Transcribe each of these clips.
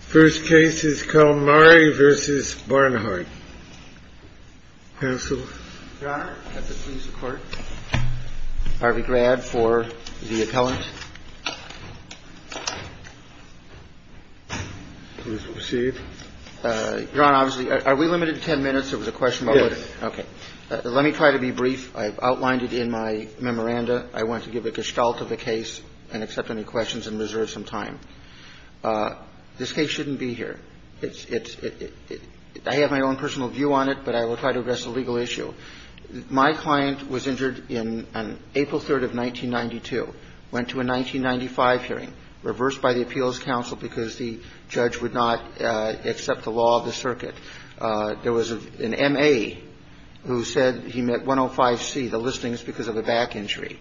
First case is Kalmurray v. Barnhart, counsel. Your Honor, I have the pleas of court. Harvey Grad for the appellant. Please proceed. Your Honor, obviously, are we limited to ten minutes? There was a question about what... Yes. Okay. Let me try to be brief. I've outlined it in my memoranda. I want to give a gestalt of the case and accept any questions and reserve some time. This case shouldn't be here. I have my own personal view on it, but I will try to address the legal issue. My client was injured on April 3rd of 1992, went to a 1995 hearing, reversed by the appeals counsel because the judge would not accept the law of the circuit. There was an M.A. who said he met 105C, the listings, because of a back injury.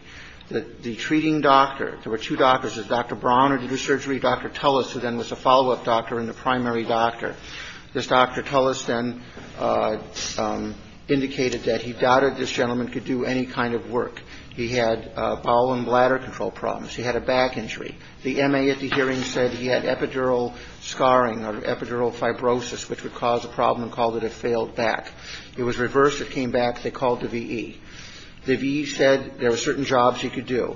The treating doctor, there were two doctors, Dr. Brown who did the surgery, Dr. Tullis, who then was a follow-up doctor and the primary doctor. This Dr. Tullis then indicated that he doubted this gentleman could do any kind of work. He had bowel and bladder control problems. He had a back injury. The M.A. at the hearing said he had epidural scarring or epidural fibrosis, which would cause a problem and called it a failed back. It was reversed. It came back. They called the V.E. The V.E. said there were certain jobs he could do.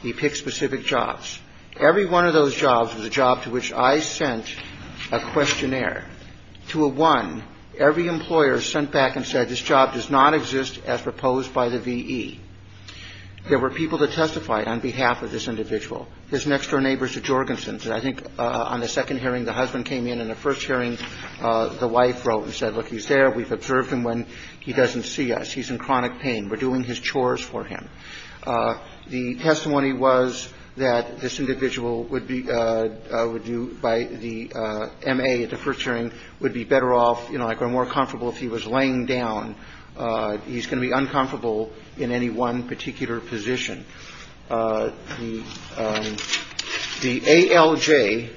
He picked specific jobs. Every one of those jobs was a job to which I sent a questionnaire to a one. Every employer sent back and said this job does not exist as proposed by the V.E. There were people that testified on behalf of this individual. His next-door neighbor is a Jorgensen. I think on the second hearing, the husband came in, and the first hearing, the wife wrote and said, look, he's there. We've observed him when he doesn't see us. He's in chronic pain. We're doing his chores for him. The testimony was that this individual would be by the M.A. at the first hearing would be better off, you know, like or more comfortable if he was laying down. He's going to be uncomfortable in any one particular position. The ALJ,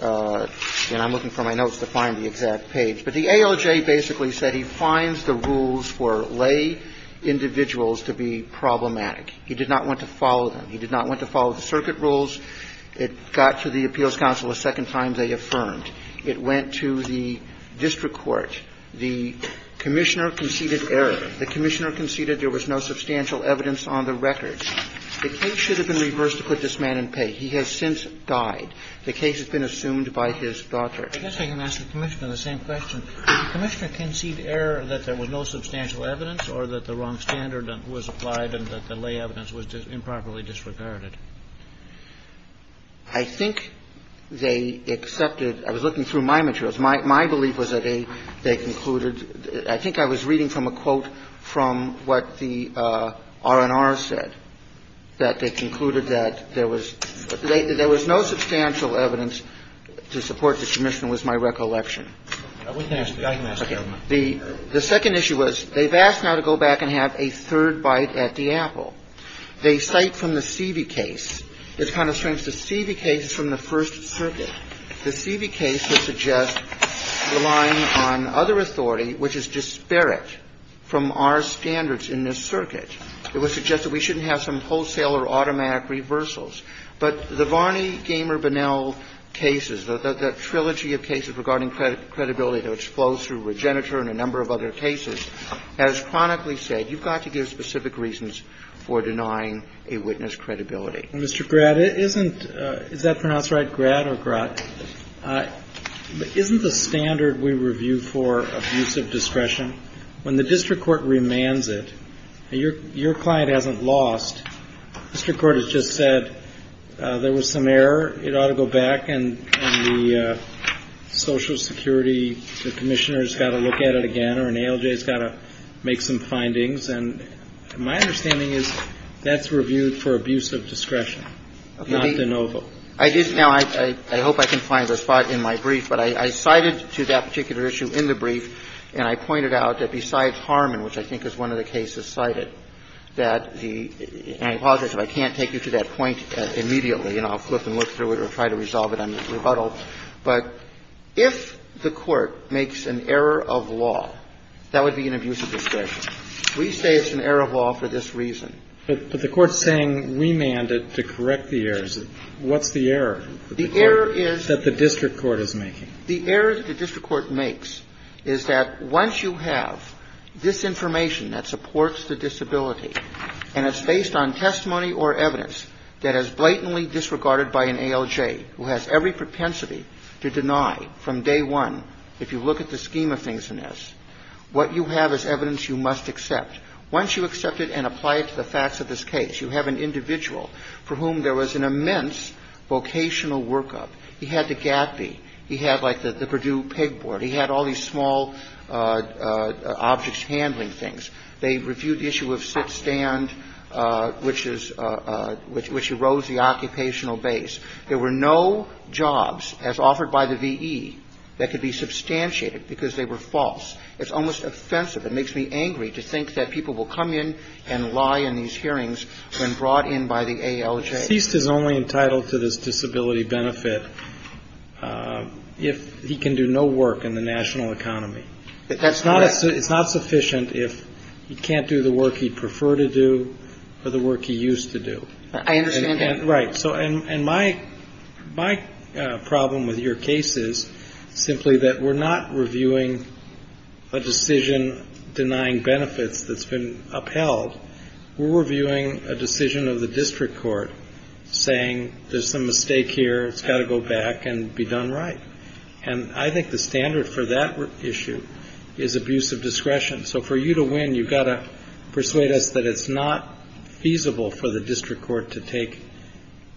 and I'm looking for my notes to find the exact page, but the ALJ basically said he finds the rules for lay individuals to be problematic. He did not want to follow them. He did not want to follow the circuit rules. It got to the appeals council the second time they affirmed. It went to the district court. The commissioner conceded error. The commissioner conceded there was no substantial evidence on the record. The case should have been reversed to put this man in pay. He has since died. The case has been assumed by his daughter. I guess I can ask the commissioner the same question. Did the commissioner concede error that there was no substantial evidence or that the wrong standard was applied and that the lay evidence was improperly disregarded? I think they accepted. I was looking through my materials. My belief was that they concluded. I think I was reading from a quote from what the R&R said, that they concluded that there was no substantial evidence to support the commission was my recollection. The second issue was they've asked now to go back and have a third bite at the apple. They cite from the Seavey case. It's kind of strange. The Seavey case is from the First Circuit. The Seavey case would suggest relying on other authority, which is disparate from our standards in this circuit. It would suggest that we shouldn't have some wholesale or automatic reversals. But the Varney, Gamer, Bonnell cases, the trilogy of cases regarding credibility that flows through Regenitor and a number of other cases has chronically said you've got to give specific reasons for denying a witness credibility. Mr. Gratt, isn't the standard we review for abuse of discretion, when the district court remands it, your client hasn't lost. The district court has just said there was some error. It ought to go back. And the Social Security commissioner has got to look at it again, or an ALJ has got to make some findings. And my understanding is that's reviewed for abuse of discretion, not de novo. Now, I hope I can find a spot in my brief, but I cited to that particular issue in the brief, and I pointed out that besides Harmon, which I think is one of the cases cited, that the – and I apologize if I can't take you to that point immediately, and I'll flip and look through it or try to resolve it on rebuttal. But if the Court makes an error of law, that would be an abuse of discretion. We say it's an error of law for this reason. But the Court's saying remand it to correct the errors. What's the error? The error is that the district court is making. The error that the district court makes is that once you have this information that supports the disability, and it's based on testimony or evidence that is blatantly disregarded by an ALJ who has every propensity to deny from day one, if you look at the scheme of things in this, what you have is evidence you must accept. Once you accept it and apply it to the facts of this case, you have an individual for whom there was an immense vocational workup. He had to gappy. He had like the Purdue pegboard. He had all these small objects handling things. They reviewed the issue of sit-stand, which is – which erodes the occupational base. There were no jobs, as offered by the V.E., that could be substantiated because they were false. It's almost offensive. It makes me angry to think that people will come in and lie in these hearings when brought in by the ALJ. The deceased is only entitled to this disability benefit if he can do no work in the national economy. That's correct. It's not sufficient if he can't do the work he'd prefer to do or the work he used to do. I understand that. Right. So – and my problem with your case is simply that we're not reviewing a decision denying benefits that's been upheld. We're reviewing a decision of the district court saying there's some mistake here. It's got to go back and be done right. And I think the standard for that issue is abuse of discretion. So for you to win, you've got to persuade us that it's not feasible for the district court to take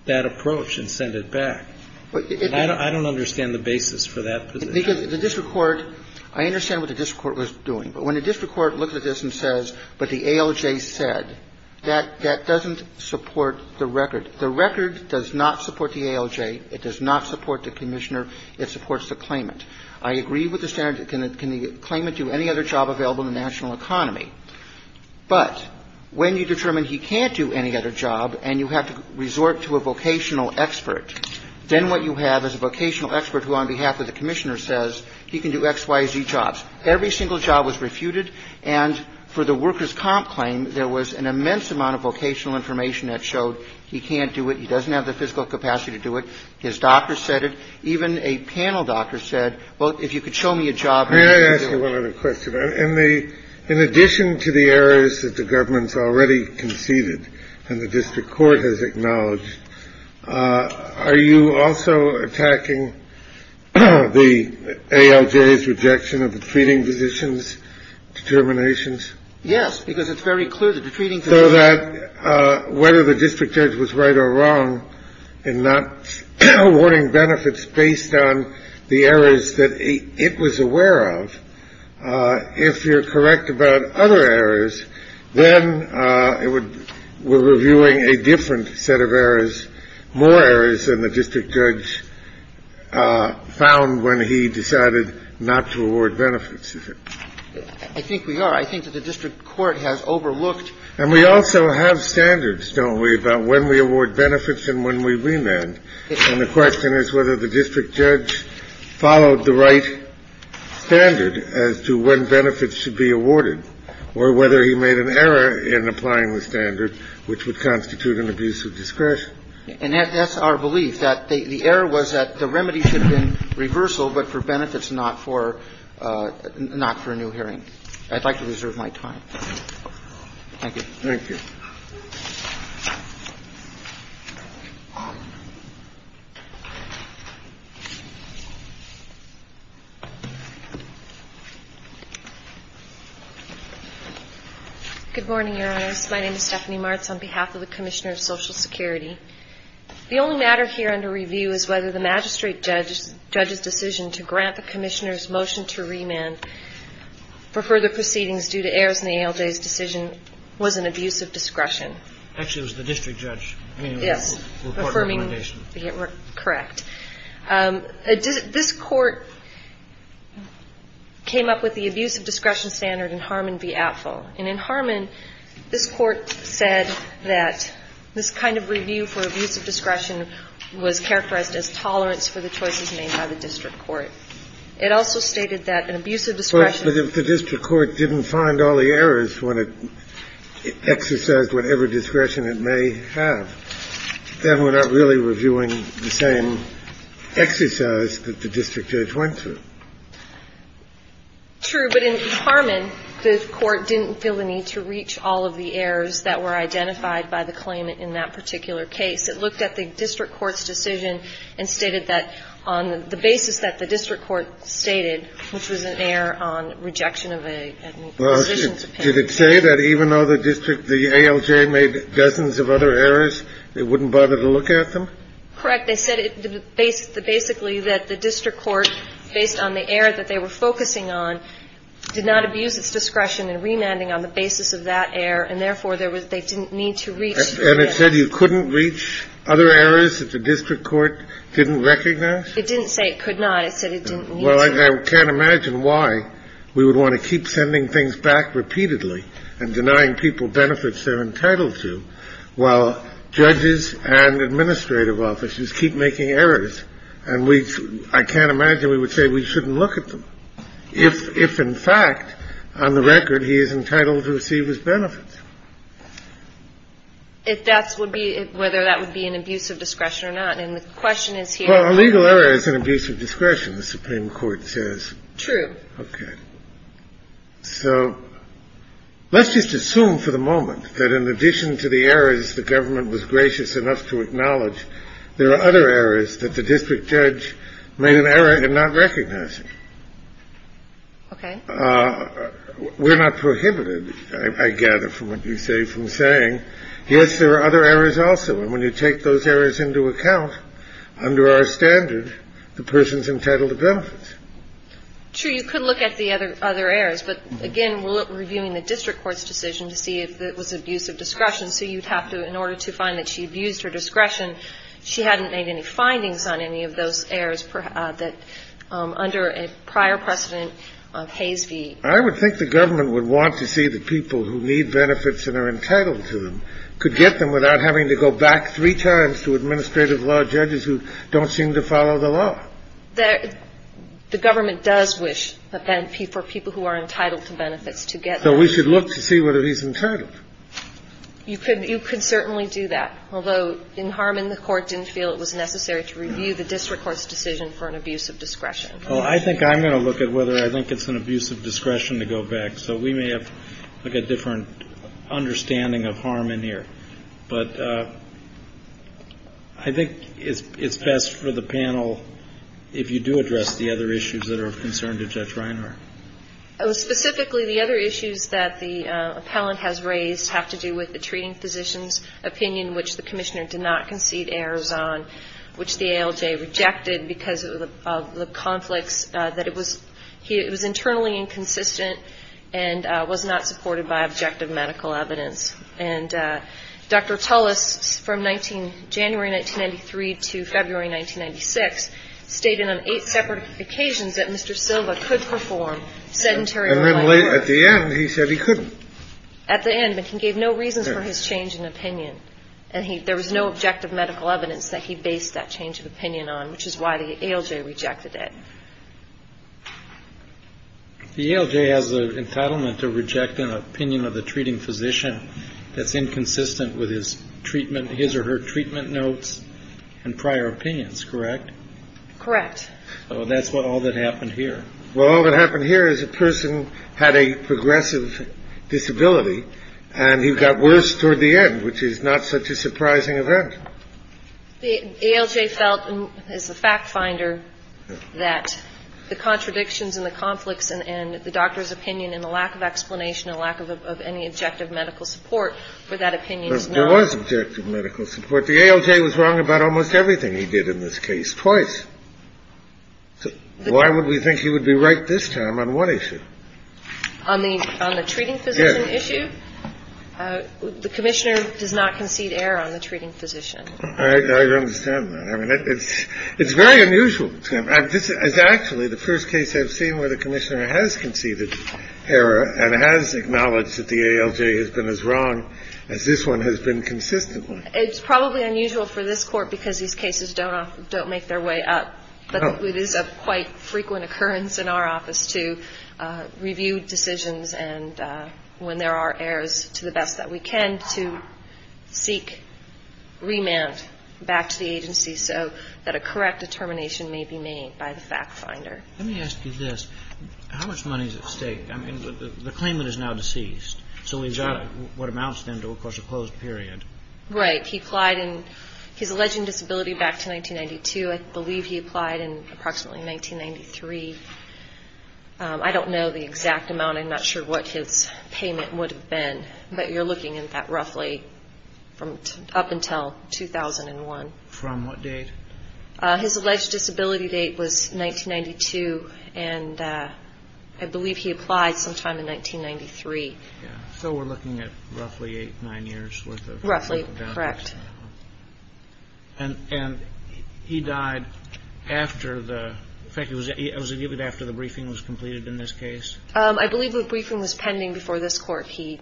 that approach and send it back. I don't understand the basis for that position. Because the district court – I understand what the district court was doing. But when the district court looks at this and says, but the ALJ said, that doesn't support the record. The record does not support the ALJ. It does not support the Commissioner. It supports the claimant. I agree with the standard. Can the claimant do any other job available in the national economy? But when you determine he can't do any other job and you have to resort to a vocational expert, then what you have is a vocational expert who on behalf of the Commissioner says he can do X, Y, Z jobs. Every single job was refuted. And for the workers' comp claim, there was an immense amount of vocational information that showed he can't do it, he doesn't have the physical capacity to do it. His doctor said it. Even a panel doctor said, well, if you could show me a job. Can I ask you one other question? In the – in addition to the errors that the government's already conceded and the district court has acknowledged, are you also attacking the ALJ's rejection of the treating physicians' determinations? Yes, because it's very clear that the treating physicians' – So that whether the district judge was right or wrong in not awarding benefits based on the errors that it was aware of, if you're correct about other errors, then it would – we're reviewing a different set of errors, more errors than the district judge found when he decided not to award benefits. I think we are. I think that the district court has overlooked – And we also have standards, don't we, about when we award benefits and when we remand. And the question is whether the district judge followed the right standard as to when benefits should be awarded or whether he made an error in applying the standard, which would constitute an abuse of discretion. And that's our belief, that the error was that the remedy should have been reversal but for benefits, not for a new hearing. I'd like to reserve my time. Thank you. Thank you. Good morning, Your Honors. My name is Stephanie Martz on behalf of the Commissioner of Social Security. The only matter here under review is whether the magistrate judge's decision to grant the Commissioner's motion to remand for further proceedings due to errors in the ALJ's decision was an abuse of discretion. Actually, it was the district judge. Yes. Affirming the – correct. This court came up with the abuse of discretion standard in Harmon v. Apfel. And in Harmon, this Court said that this kind of review for abuse of discretion was characterized as tolerance for the choices made by the district court. It also stated that an abuse of discretion – But if the district court didn't find all the errors when it exercised whatever discretion it may have, then we're not really reviewing the same exercise that the district judge went through. True. But in Harmon, this Court didn't feel the need to reach all of the errors that were identified by the claimant in that particular case. It looked at the district court's decision and stated that on the basis that the district court stated, which was an error on rejection of a – Well, did it say that even though the district – the ALJ made dozens of other errors, it wouldn't bother to look at them? Correct. They said basically that the district court, based on the error that they were focusing on, did not abuse its discretion in remanding on the basis of that error, and therefore they didn't need to reach – And it said you couldn't reach other errors that the district court didn't recognize? It didn't say it could not. It said it didn't need to. Well, I can't imagine why we would want to keep sending things back repeatedly and denying people benefits they're entitled to while judges and administrative officers keep making errors, and we – I can't imagine we would say we shouldn't look at them, if in fact, on the record, he is entitled to receive his benefits. If that would be – whether that would be an abuse of discretion or not. And the question is here – Well, a legal error is an abuse of discretion, the Supreme Court says. True. Okay. So let's just assume for the moment that in addition to the errors the government was gracious enough to acknowledge, there are other errors that the district judge made an error in not recognizing. Okay. We're not prohibited, I gather, from what you say, from saying, yes, there are other errors also. And when you take those errors into account, under our standard, the person's entitled to benefits. True. You could look at the other errors. But, again, we're reviewing the district court's decision to see if it was abuse of discretion. So you'd have to – in order to find that she abused her discretion, she hadn't made any findings on any of those errors that – under a prior precedent of Hayes v. I would think the government would want to see the people who need benefits and are entitled to them could get them without having to go back three times to administrative law judges who don't seem to follow the law. The government does wish for people who are entitled to benefits to get them. So we should look to see whether he's entitled. You could certainly do that. Although in Harmon, the court didn't feel it was necessary to review the district court's decision for an abuse of discretion. Well, I think I'm going to look at whether I think it's an abuse of discretion to go back. So we may have to look at a different understanding of Harmon here. But I think it's best for the panel if you do address the other issues that are of concern to Judge Reinhart. Specifically, the other issues that the appellant has raised have to do with the treating physician's opinion, which the commissioner did not concede errors on, which the ALJ rejected because of the conflicts that it was – it was internally inconsistent and was not supported by objective medical evidence. And Dr. Tullis, from 19 – January 1993 to February 1996, stated on eight separate occasions that Mr. Silva could perform sedentary employment. At the end, he said he couldn't. At the end. But he gave no reasons for his change in opinion. And he – there was no objective medical evidence that he based that change of opinion on, which is why the ALJ rejected it. The ALJ has the entitlement to reject an opinion of the treating physician that's inconsistent with his treatment – his or her treatment notes and prior opinions, correct? Correct. So that's what – all that happened here. Well, all that happened here is a person had a progressive disability and he got worse toward the end, which is not such a surprising event. The ALJ felt, as the fact finder, that the contradictions and the conflicts and the doctor's opinion and the lack of explanation and lack of any objective medical support for that opinion is not objective medical support. The ALJ was wrong about almost everything he did in this case, twice. Why would we think he would be right this time on what issue? On the – on the treating physician issue? Yes. The commissioner does not concede error on the treating physician. I understand that. I mean, it's very unusual. This is actually the first case I've seen where the commissioner has conceded error and has acknowledged that the ALJ has been as wrong as this one has been consistently. It's probably unusual for this Court because these cases don't make their way up, but it is a quite frequent occurrence in our office to review decisions and when there are errors, to the best that we can, to seek remand back to the agency so that a correct determination may be made by the fact finder. Let me ask you this. How much money is at stake? I mean, the claimant is now deceased. Exactly. So what amounts then to, of course, a closed period? Right. He applied in his alleged disability back to 1992. I believe he applied in approximately 1993. I don't know the exact amount. I'm not sure what his payment would have been, but you're looking at that roughly up until 2001. From what date? His alleged disability date was 1992, and I believe he applied sometime in 1993. So we're looking at roughly eight, nine years' worth of... Roughly, correct. And he died after the briefing was completed in this case? I believe the briefing was pending before this Court. He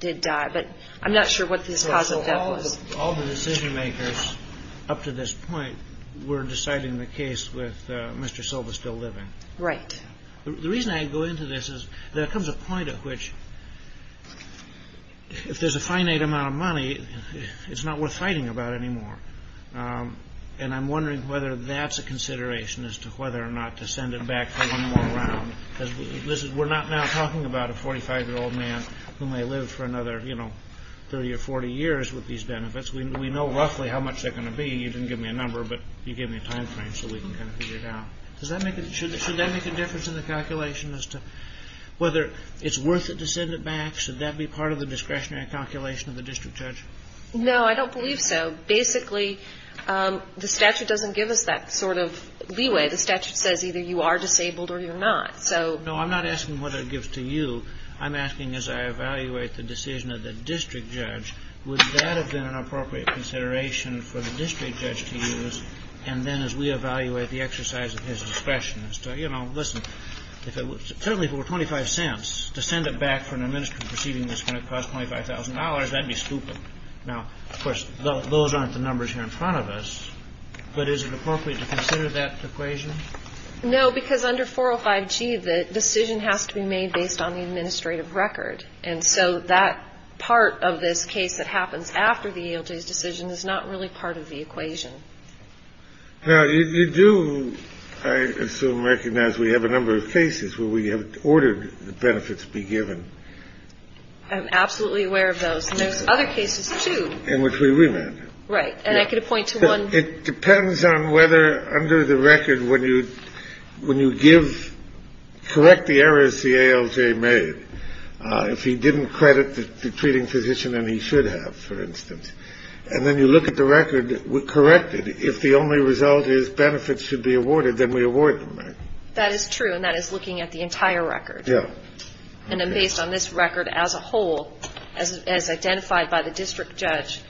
did die, but I'm not sure what his cause of death was. So all the decision makers up to this point were deciding the case with Mr. Silva still living? Right. The reason I go into this is there comes a point at which if there's a finite amount of money, it's not worth fighting about anymore, and I'm wondering whether that's a consideration as to whether or not to send it back for one more round. We're not now talking about a 45-year-old man who may live for another 30 or 40 years with these benefits. We know roughly how much they're going to be. You didn't give me a number, but you gave me a time frame so we can kind of figure it out. Should that make a difference in the calculation as to whether it's worth it to send it back? Should that be part of the discretionary calculation of the district judge? No, I don't believe so. Basically, the statute doesn't give us that sort of leeway. The statute says either you are disabled or you're not. No, I'm not asking what it gives to you. I'm asking as I evaluate the decision of the district judge, would that have been an appropriate consideration for the district judge to use, and then as we evaluate the exercise of his discretion as to, you know, listen, if it was certainly for 25 cents to send it back for an administrative proceeding, it's going to cost $25,000. That'd be stupid. Now, of course, those aren't the numbers here in front of us. But is it appropriate to consider that equation? No, because under 405G, the decision has to be made based on the administrative record. And so that part of this case that happens after the decision is not really part of the equation. Now, you do, I assume, recognize we have a number of cases where we have ordered the benefits be given. I'm absolutely aware of those. And there's other cases, too. In which we remand. Right. And I could point to one. It depends on whether under the record when you give, correct the errors the ALJ made. And then you look at the record, correct it. If the only result is benefits should be awarded, then we award them. That is true. And that is looking at the entire record. Yeah. And then based on this record as a whole, as identified by the district judge,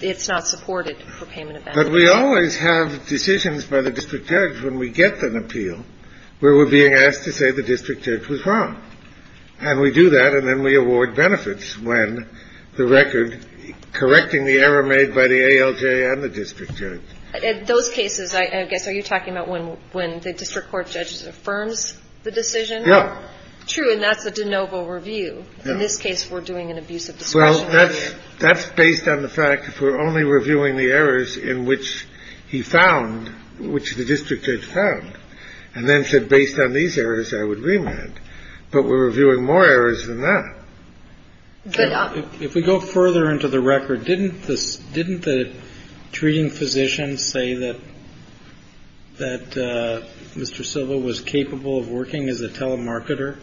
it's not supported for payment of benefits. But we always have decisions by the district judge when we get an appeal where we're being asked to say the district judge was wrong. And we do that. And then we award benefits when the record correcting the error made by the ALJ and the district judge. In those cases, I guess, are you talking about when the district court judges affirms the decision? Yeah. True. And that's a de novo review. In this case, we're doing an abuse of discretion. Well, that's based on the fact that we're only reviewing the errors in which he found, which the district judge found. And then said based on these errors, I would remand. But we're reviewing more errors than that. If we go further into the record, didn't the treating physician say that Mr. Silva was capable of working as a telemarketer,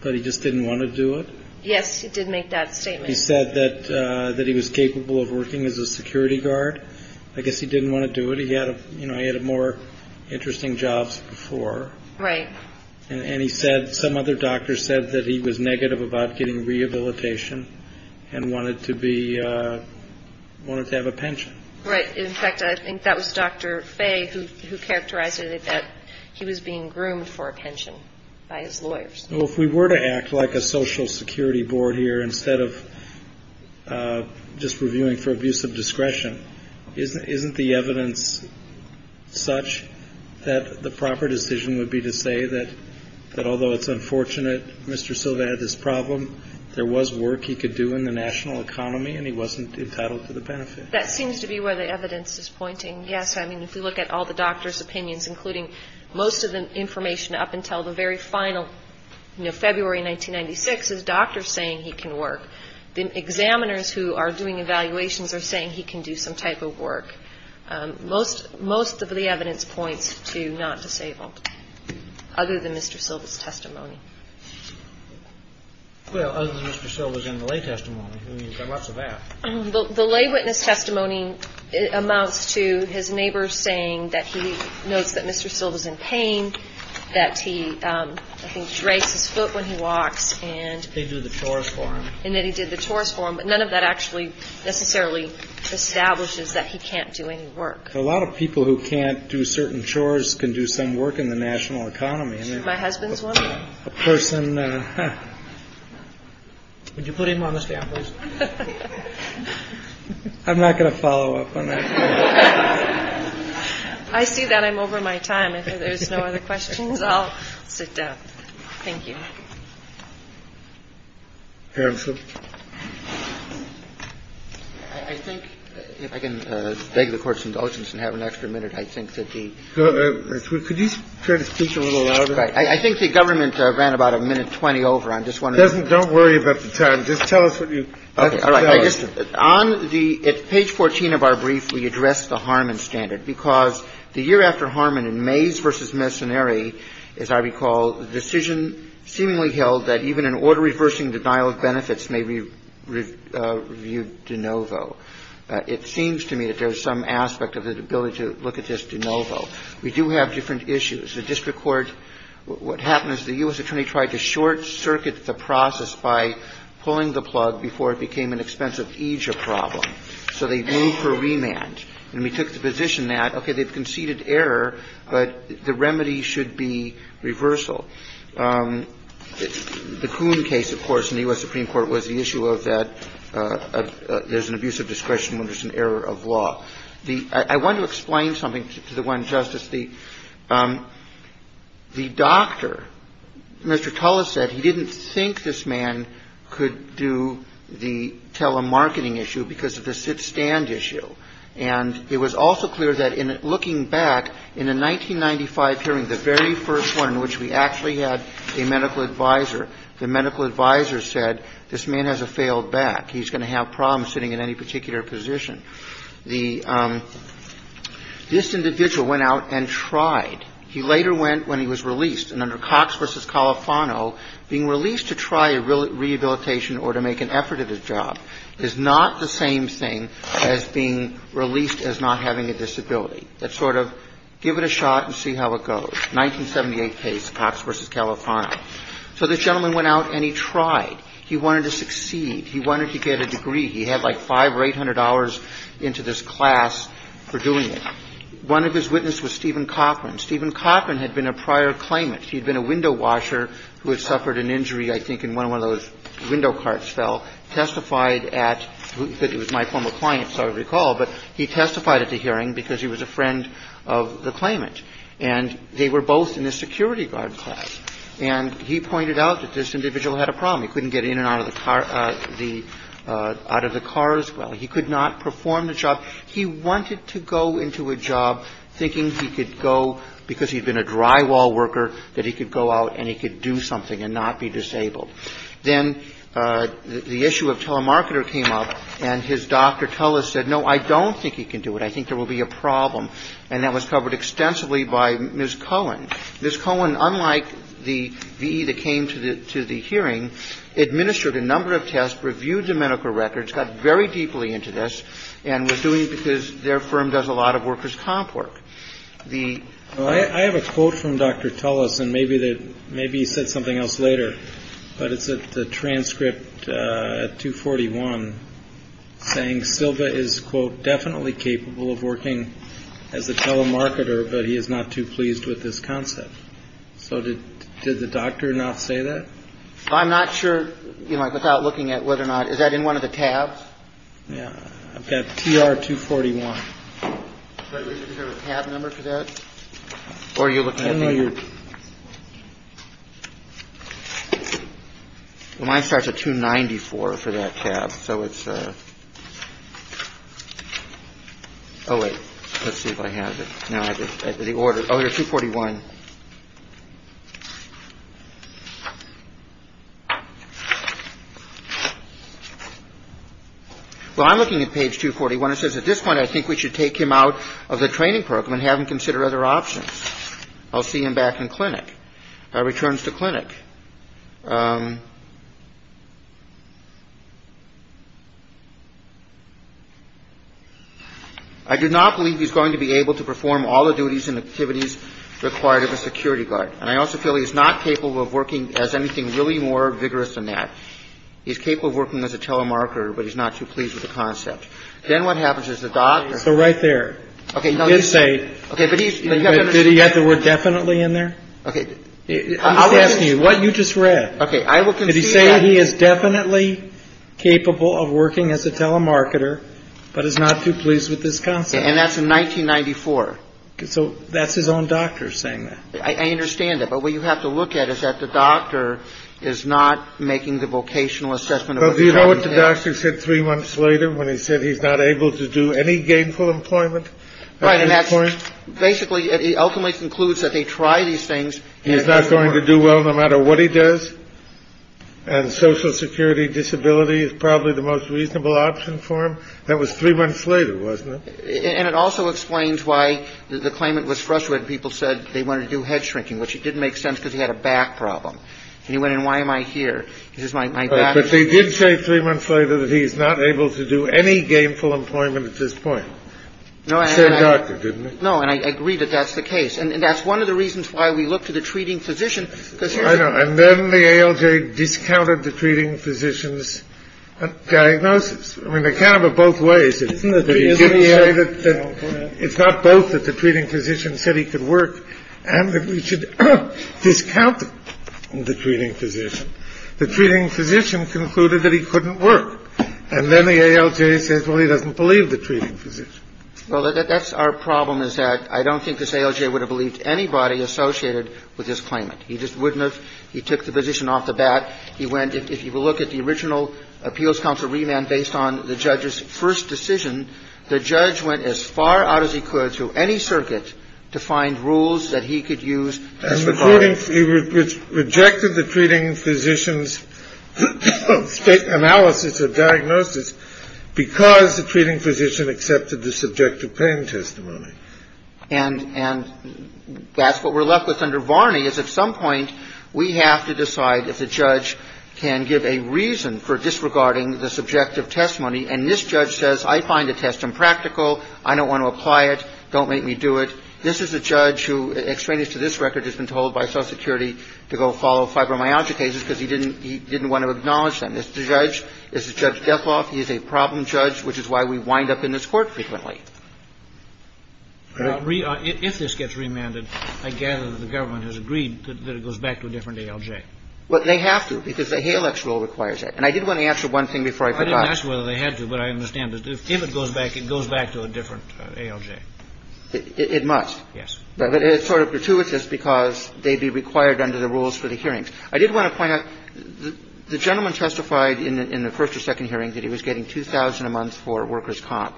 but he just didn't want to do it? Yes, he did make that statement. He said that he was capable of working as a security guard. I guess he didn't want to do it. He had more interesting jobs before. Right. And he said some other doctor said that he was negative about getting rehabilitation and wanted to be, wanted to have a pension. Right. In fact, I think that was Dr. Fay who characterized it that he was being groomed for a pension by his lawyers. Well, if we were to act like a social security board here instead of just reviewing for abuse of discretion, isn't the evidence such that the proper decision would be to say that although it's unfortunate Mr. Silva had this problem, there was work he could do in the national economy and he wasn't entitled to the benefit? That seems to be where the evidence is pointing. Yes, I mean, if you look at all the doctors' opinions, including most of the information up until the very final, you know, February 1996, is doctors saying he can work. The examiners who are doing evaluations are saying he can do some type of work. Most, most of the evidence points to not disabled other than Mr. Silva's testimony. Well, other than Mr. Silva's in the lay testimony, there's lots of that. Well, the lay witness testimony amounts to his neighbors saying that he knows that Mr. Silva's in pain, that he, I think, drapes his foot when he walks. And they do the chores for him and that he did the chores for him. But none of that actually necessarily establishes that he can't do any work. A lot of people who can't do certain chores can do some work in the national economy. My husband's a person. I'm not going to follow up on that. I see that I'm over my time. If there's no other questions, I'll sit down. Thank you. I think if I can beg the Court's indulgence and have an extra minute, I think that the could you try to speak a little louder? All right. I think the government ran about a minute 20 over. I'm just wondering. Don't worry about the time. Just tell us what you. All right. On the page 14 of our brief, we address the Harmon standard because the year after Harmon in Mays v. Messonnieri, as I recall, the decision seemingly held that even an order reversing denial of benefits may be reviewed de novo. It seems to me that there's some aspect of the ability to look at this de novo. We do have different issues. The district court, what happened is the U.S. attorney tried to short-circuit the process by pulling the plug before it became an expensive aegis problem, so they moved for remand. And we took the position that, okay, they've conceded error, but the remedy should be reversal. The Coon case, of course, in the U.S. Supreme Court was the issue of that there's an abuse of discretion when there's an error of law. I want to explain something to the one justice. The doctor, Mr. Tullis said he didn't think this man could do the telemarketing issue because of the sit-stand issue. And it was also clear that in looking back, in the 1995 hearing, the very first one in which we actually had a medical advisor, the medical advisor said this man has a failed back. He's going to have problems sitting in any particular position. The – this individual went out and tried. He later went when he was released. And under Cox v. Califano, being released to try a rehabilitation or to make an effort at a job is not the same thing as being released as not having a disability. It's sort of give it a shot and see how it goes, 1978 case, Cox v. Califano. So this gentleman went out and he tried. He wanted to get a degree. He had like $500 or $800 into this class for doing it. One of his witnesses was Stephen Coffman. Stephen Coffman had been a prior claimant. He had been a window washer who had suffered an injury, I think, and one of those window carts fell, testified at – he was my former client, so I recall, but he testified at the hearing because he was a friend of the claimant. And they were both in the security guard class. And he pointed out that this individual had a problem. He couldn't get in and out of the car – out of the car as well. He could not perform the job. He wanted to go into a job thinking he could go, because he had been a drywall worker, that he could go out and he could do something and not be disabled. Then the issue of telemarketer came up, and his doctor, Tullis, said, no, I don't think he can do it. I think there will be a problem. And that was covered extensively by Ms. Cohen. Ms. Cohen, unlike the V.E. that came to the hearing, administered a number of tests, reviewed the medical records, got very deeply into this, and was doing it because their firm does a lot of workers' comp work. The – I have a quote from Dr. Tullis, and maybe he said something else later, but it's at the transcript at 241, saying Silva is, quote, definitely capable of working as a telemarketer, but he is not too pleased with this concept. So did the doctor not say that? I'm not sure, you know, without looking at whether or not – is that in one of the tabs? Yeah. I've got TR241. Is there a tab number for that? Or are you looking at the – Mine starts at 294 for that tab. So it's – oh, wait. Let's see if I have it. No, I have it at the order – oh, here, 241. Well, I'm looking at page 241. It says, at this point, I think we should take him out of the training program and have him consider other options. I'll see him back in clinic. Returns to clinic. I do not believe he's going to be able to perform all the duties and activities required of a security guard. And I also feel he's not capable of working as anything really more vigorous than that. He's capable of working as a telemarketer, but he's not too pleased with the concept. Then what happens is the doctor – So right there. Okay. Did he say – Okay. But he's – Did he add the word definitely in there? Okay. I'm just asking you. What you just read. Okay. I will concede that – Did he say he is definitely capable of working as a telemarketer, but is not too pleased with this concept? And that's in 1994. Okay. So that's his own doctor saying that. I understand that. But what you have to look at is that the doctor is not making the vocational assessment of – Well, do you know what the doctor said three months later when he said he's not able to do any gainful employment at any point? Right. And that's – basically, it ultimately concludes that they try these things – He's not going to do well no matter what he does. And Social Security disability is probably the most reasonable option for him. That was three months later, wasn't it? And it also explains why the claimant was frustrated. People said they wanted to do head shrinking, which didn't make sense because he had a back problem. And he went, and why am I here? This is my back. But they did say three months later that he's not able to do any gainful employment at this point. No, I – Said the doctor, didn't he? No. And I agree that that's the case. And that's one of the reasons why we look to the treating physician. I know. And then the ALJ discounted the treating physician's diagnosis. I mean, they kind of are both ways. It's not both that the treating physician said he could work and that we should discount the treating physician. The treating physician concluded that he couldn't work. And then the ALJ says, well, he doesn't believe the treating physician. Well, that's our problem, is that I don't think this ALJ would have believed anybody associated with this claimant. He just wouldn't have. He took the position off the bat. He went – if you look at the original appeals counsel remand based on the judge's first decision, the judge went as far out as he could through any circuit to find rules that he could use. And he rejected the treating physician's analysis or diagnosis because the treating physician accepted the subjective pain testimony. And that's what we're left with under Varney, is at some point we have to decide if the judge can give a reason for disregarding the subjective testimony. And this judge says, I find the test impractical. I don't want to apply it. Don't make me do it. This is a judge who, extraneous to this record, has been told by Social Security to go follow fibromyalgia cases because he didn't – he didn't want to acknowledge them. This is a judge – this is Judge Defloff. He is a problem judge, which is why we wind up in this Court frequently. If this gets remanded, I gather that the government has agreed that it goes back to a different ALJ. Well, they have to because the HALEX rule requires it. And I did want to answer one thing before I forgot. I didn't ask whether they had to, but I understand. If it goes back, it goes back to a different ALJ. It must. Yes. But it's sort of gratuitous because they'd be required under the rules for the hearings. I did want to point out, the gentleman testified in the first or second hearing that he was getting $2,000 a month for workers' comp.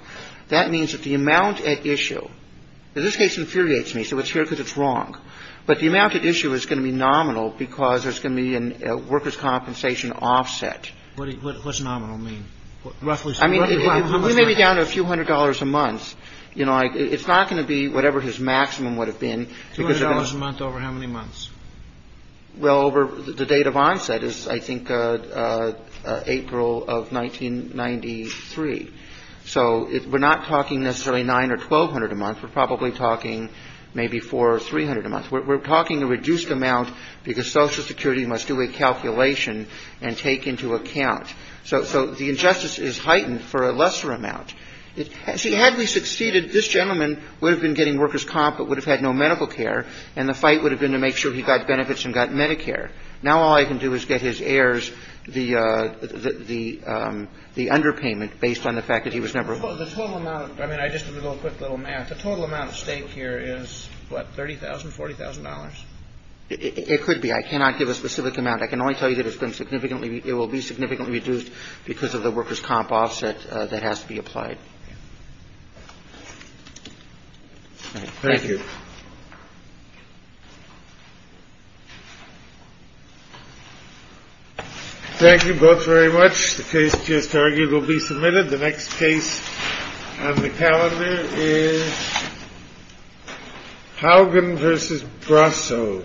That means that the amount at issue – and this case infuriates me, so it's here because it's wrong. But the amount at issue is going to be nominal because there's going to be a workers' compensation offset. What does nominal mean? Roughly speaking. I mean, we may be down to a few hundred dollars a month. You know, it's not going to be whatever his maximum would have been. $200 a month over how many months? Well, over the date of onset is, I think, April of 1993. So we're not talking necessarily $900 or $1,200 a month. We're probably talking maybe $400 or $300 a month. We're talking a reduced amount because Social Security must do a calculation and take into account. So the injustice is heightened for a lesser amount. See, had we succeeded, this gentleman would have been getting workers' comp but would have had no medical care, and the fight would have been to make sure he got benefits and got Medicare. Now all I can do is get his heirs the underpayment based on the fact that he was never home. The total amount – I mean, just a quick little math. The total amount at stake here is, what, $30,000, $40,000? It could be. I cannot give a specific amount. I can only tell you that it's been significantly – it will be significantly reduced because of the workers' comp offset that has to be applied. Thank you. Thank you both very much. The case just argued will be submitted. The next case on the calendar is Haugen v. Brasso. Thank you.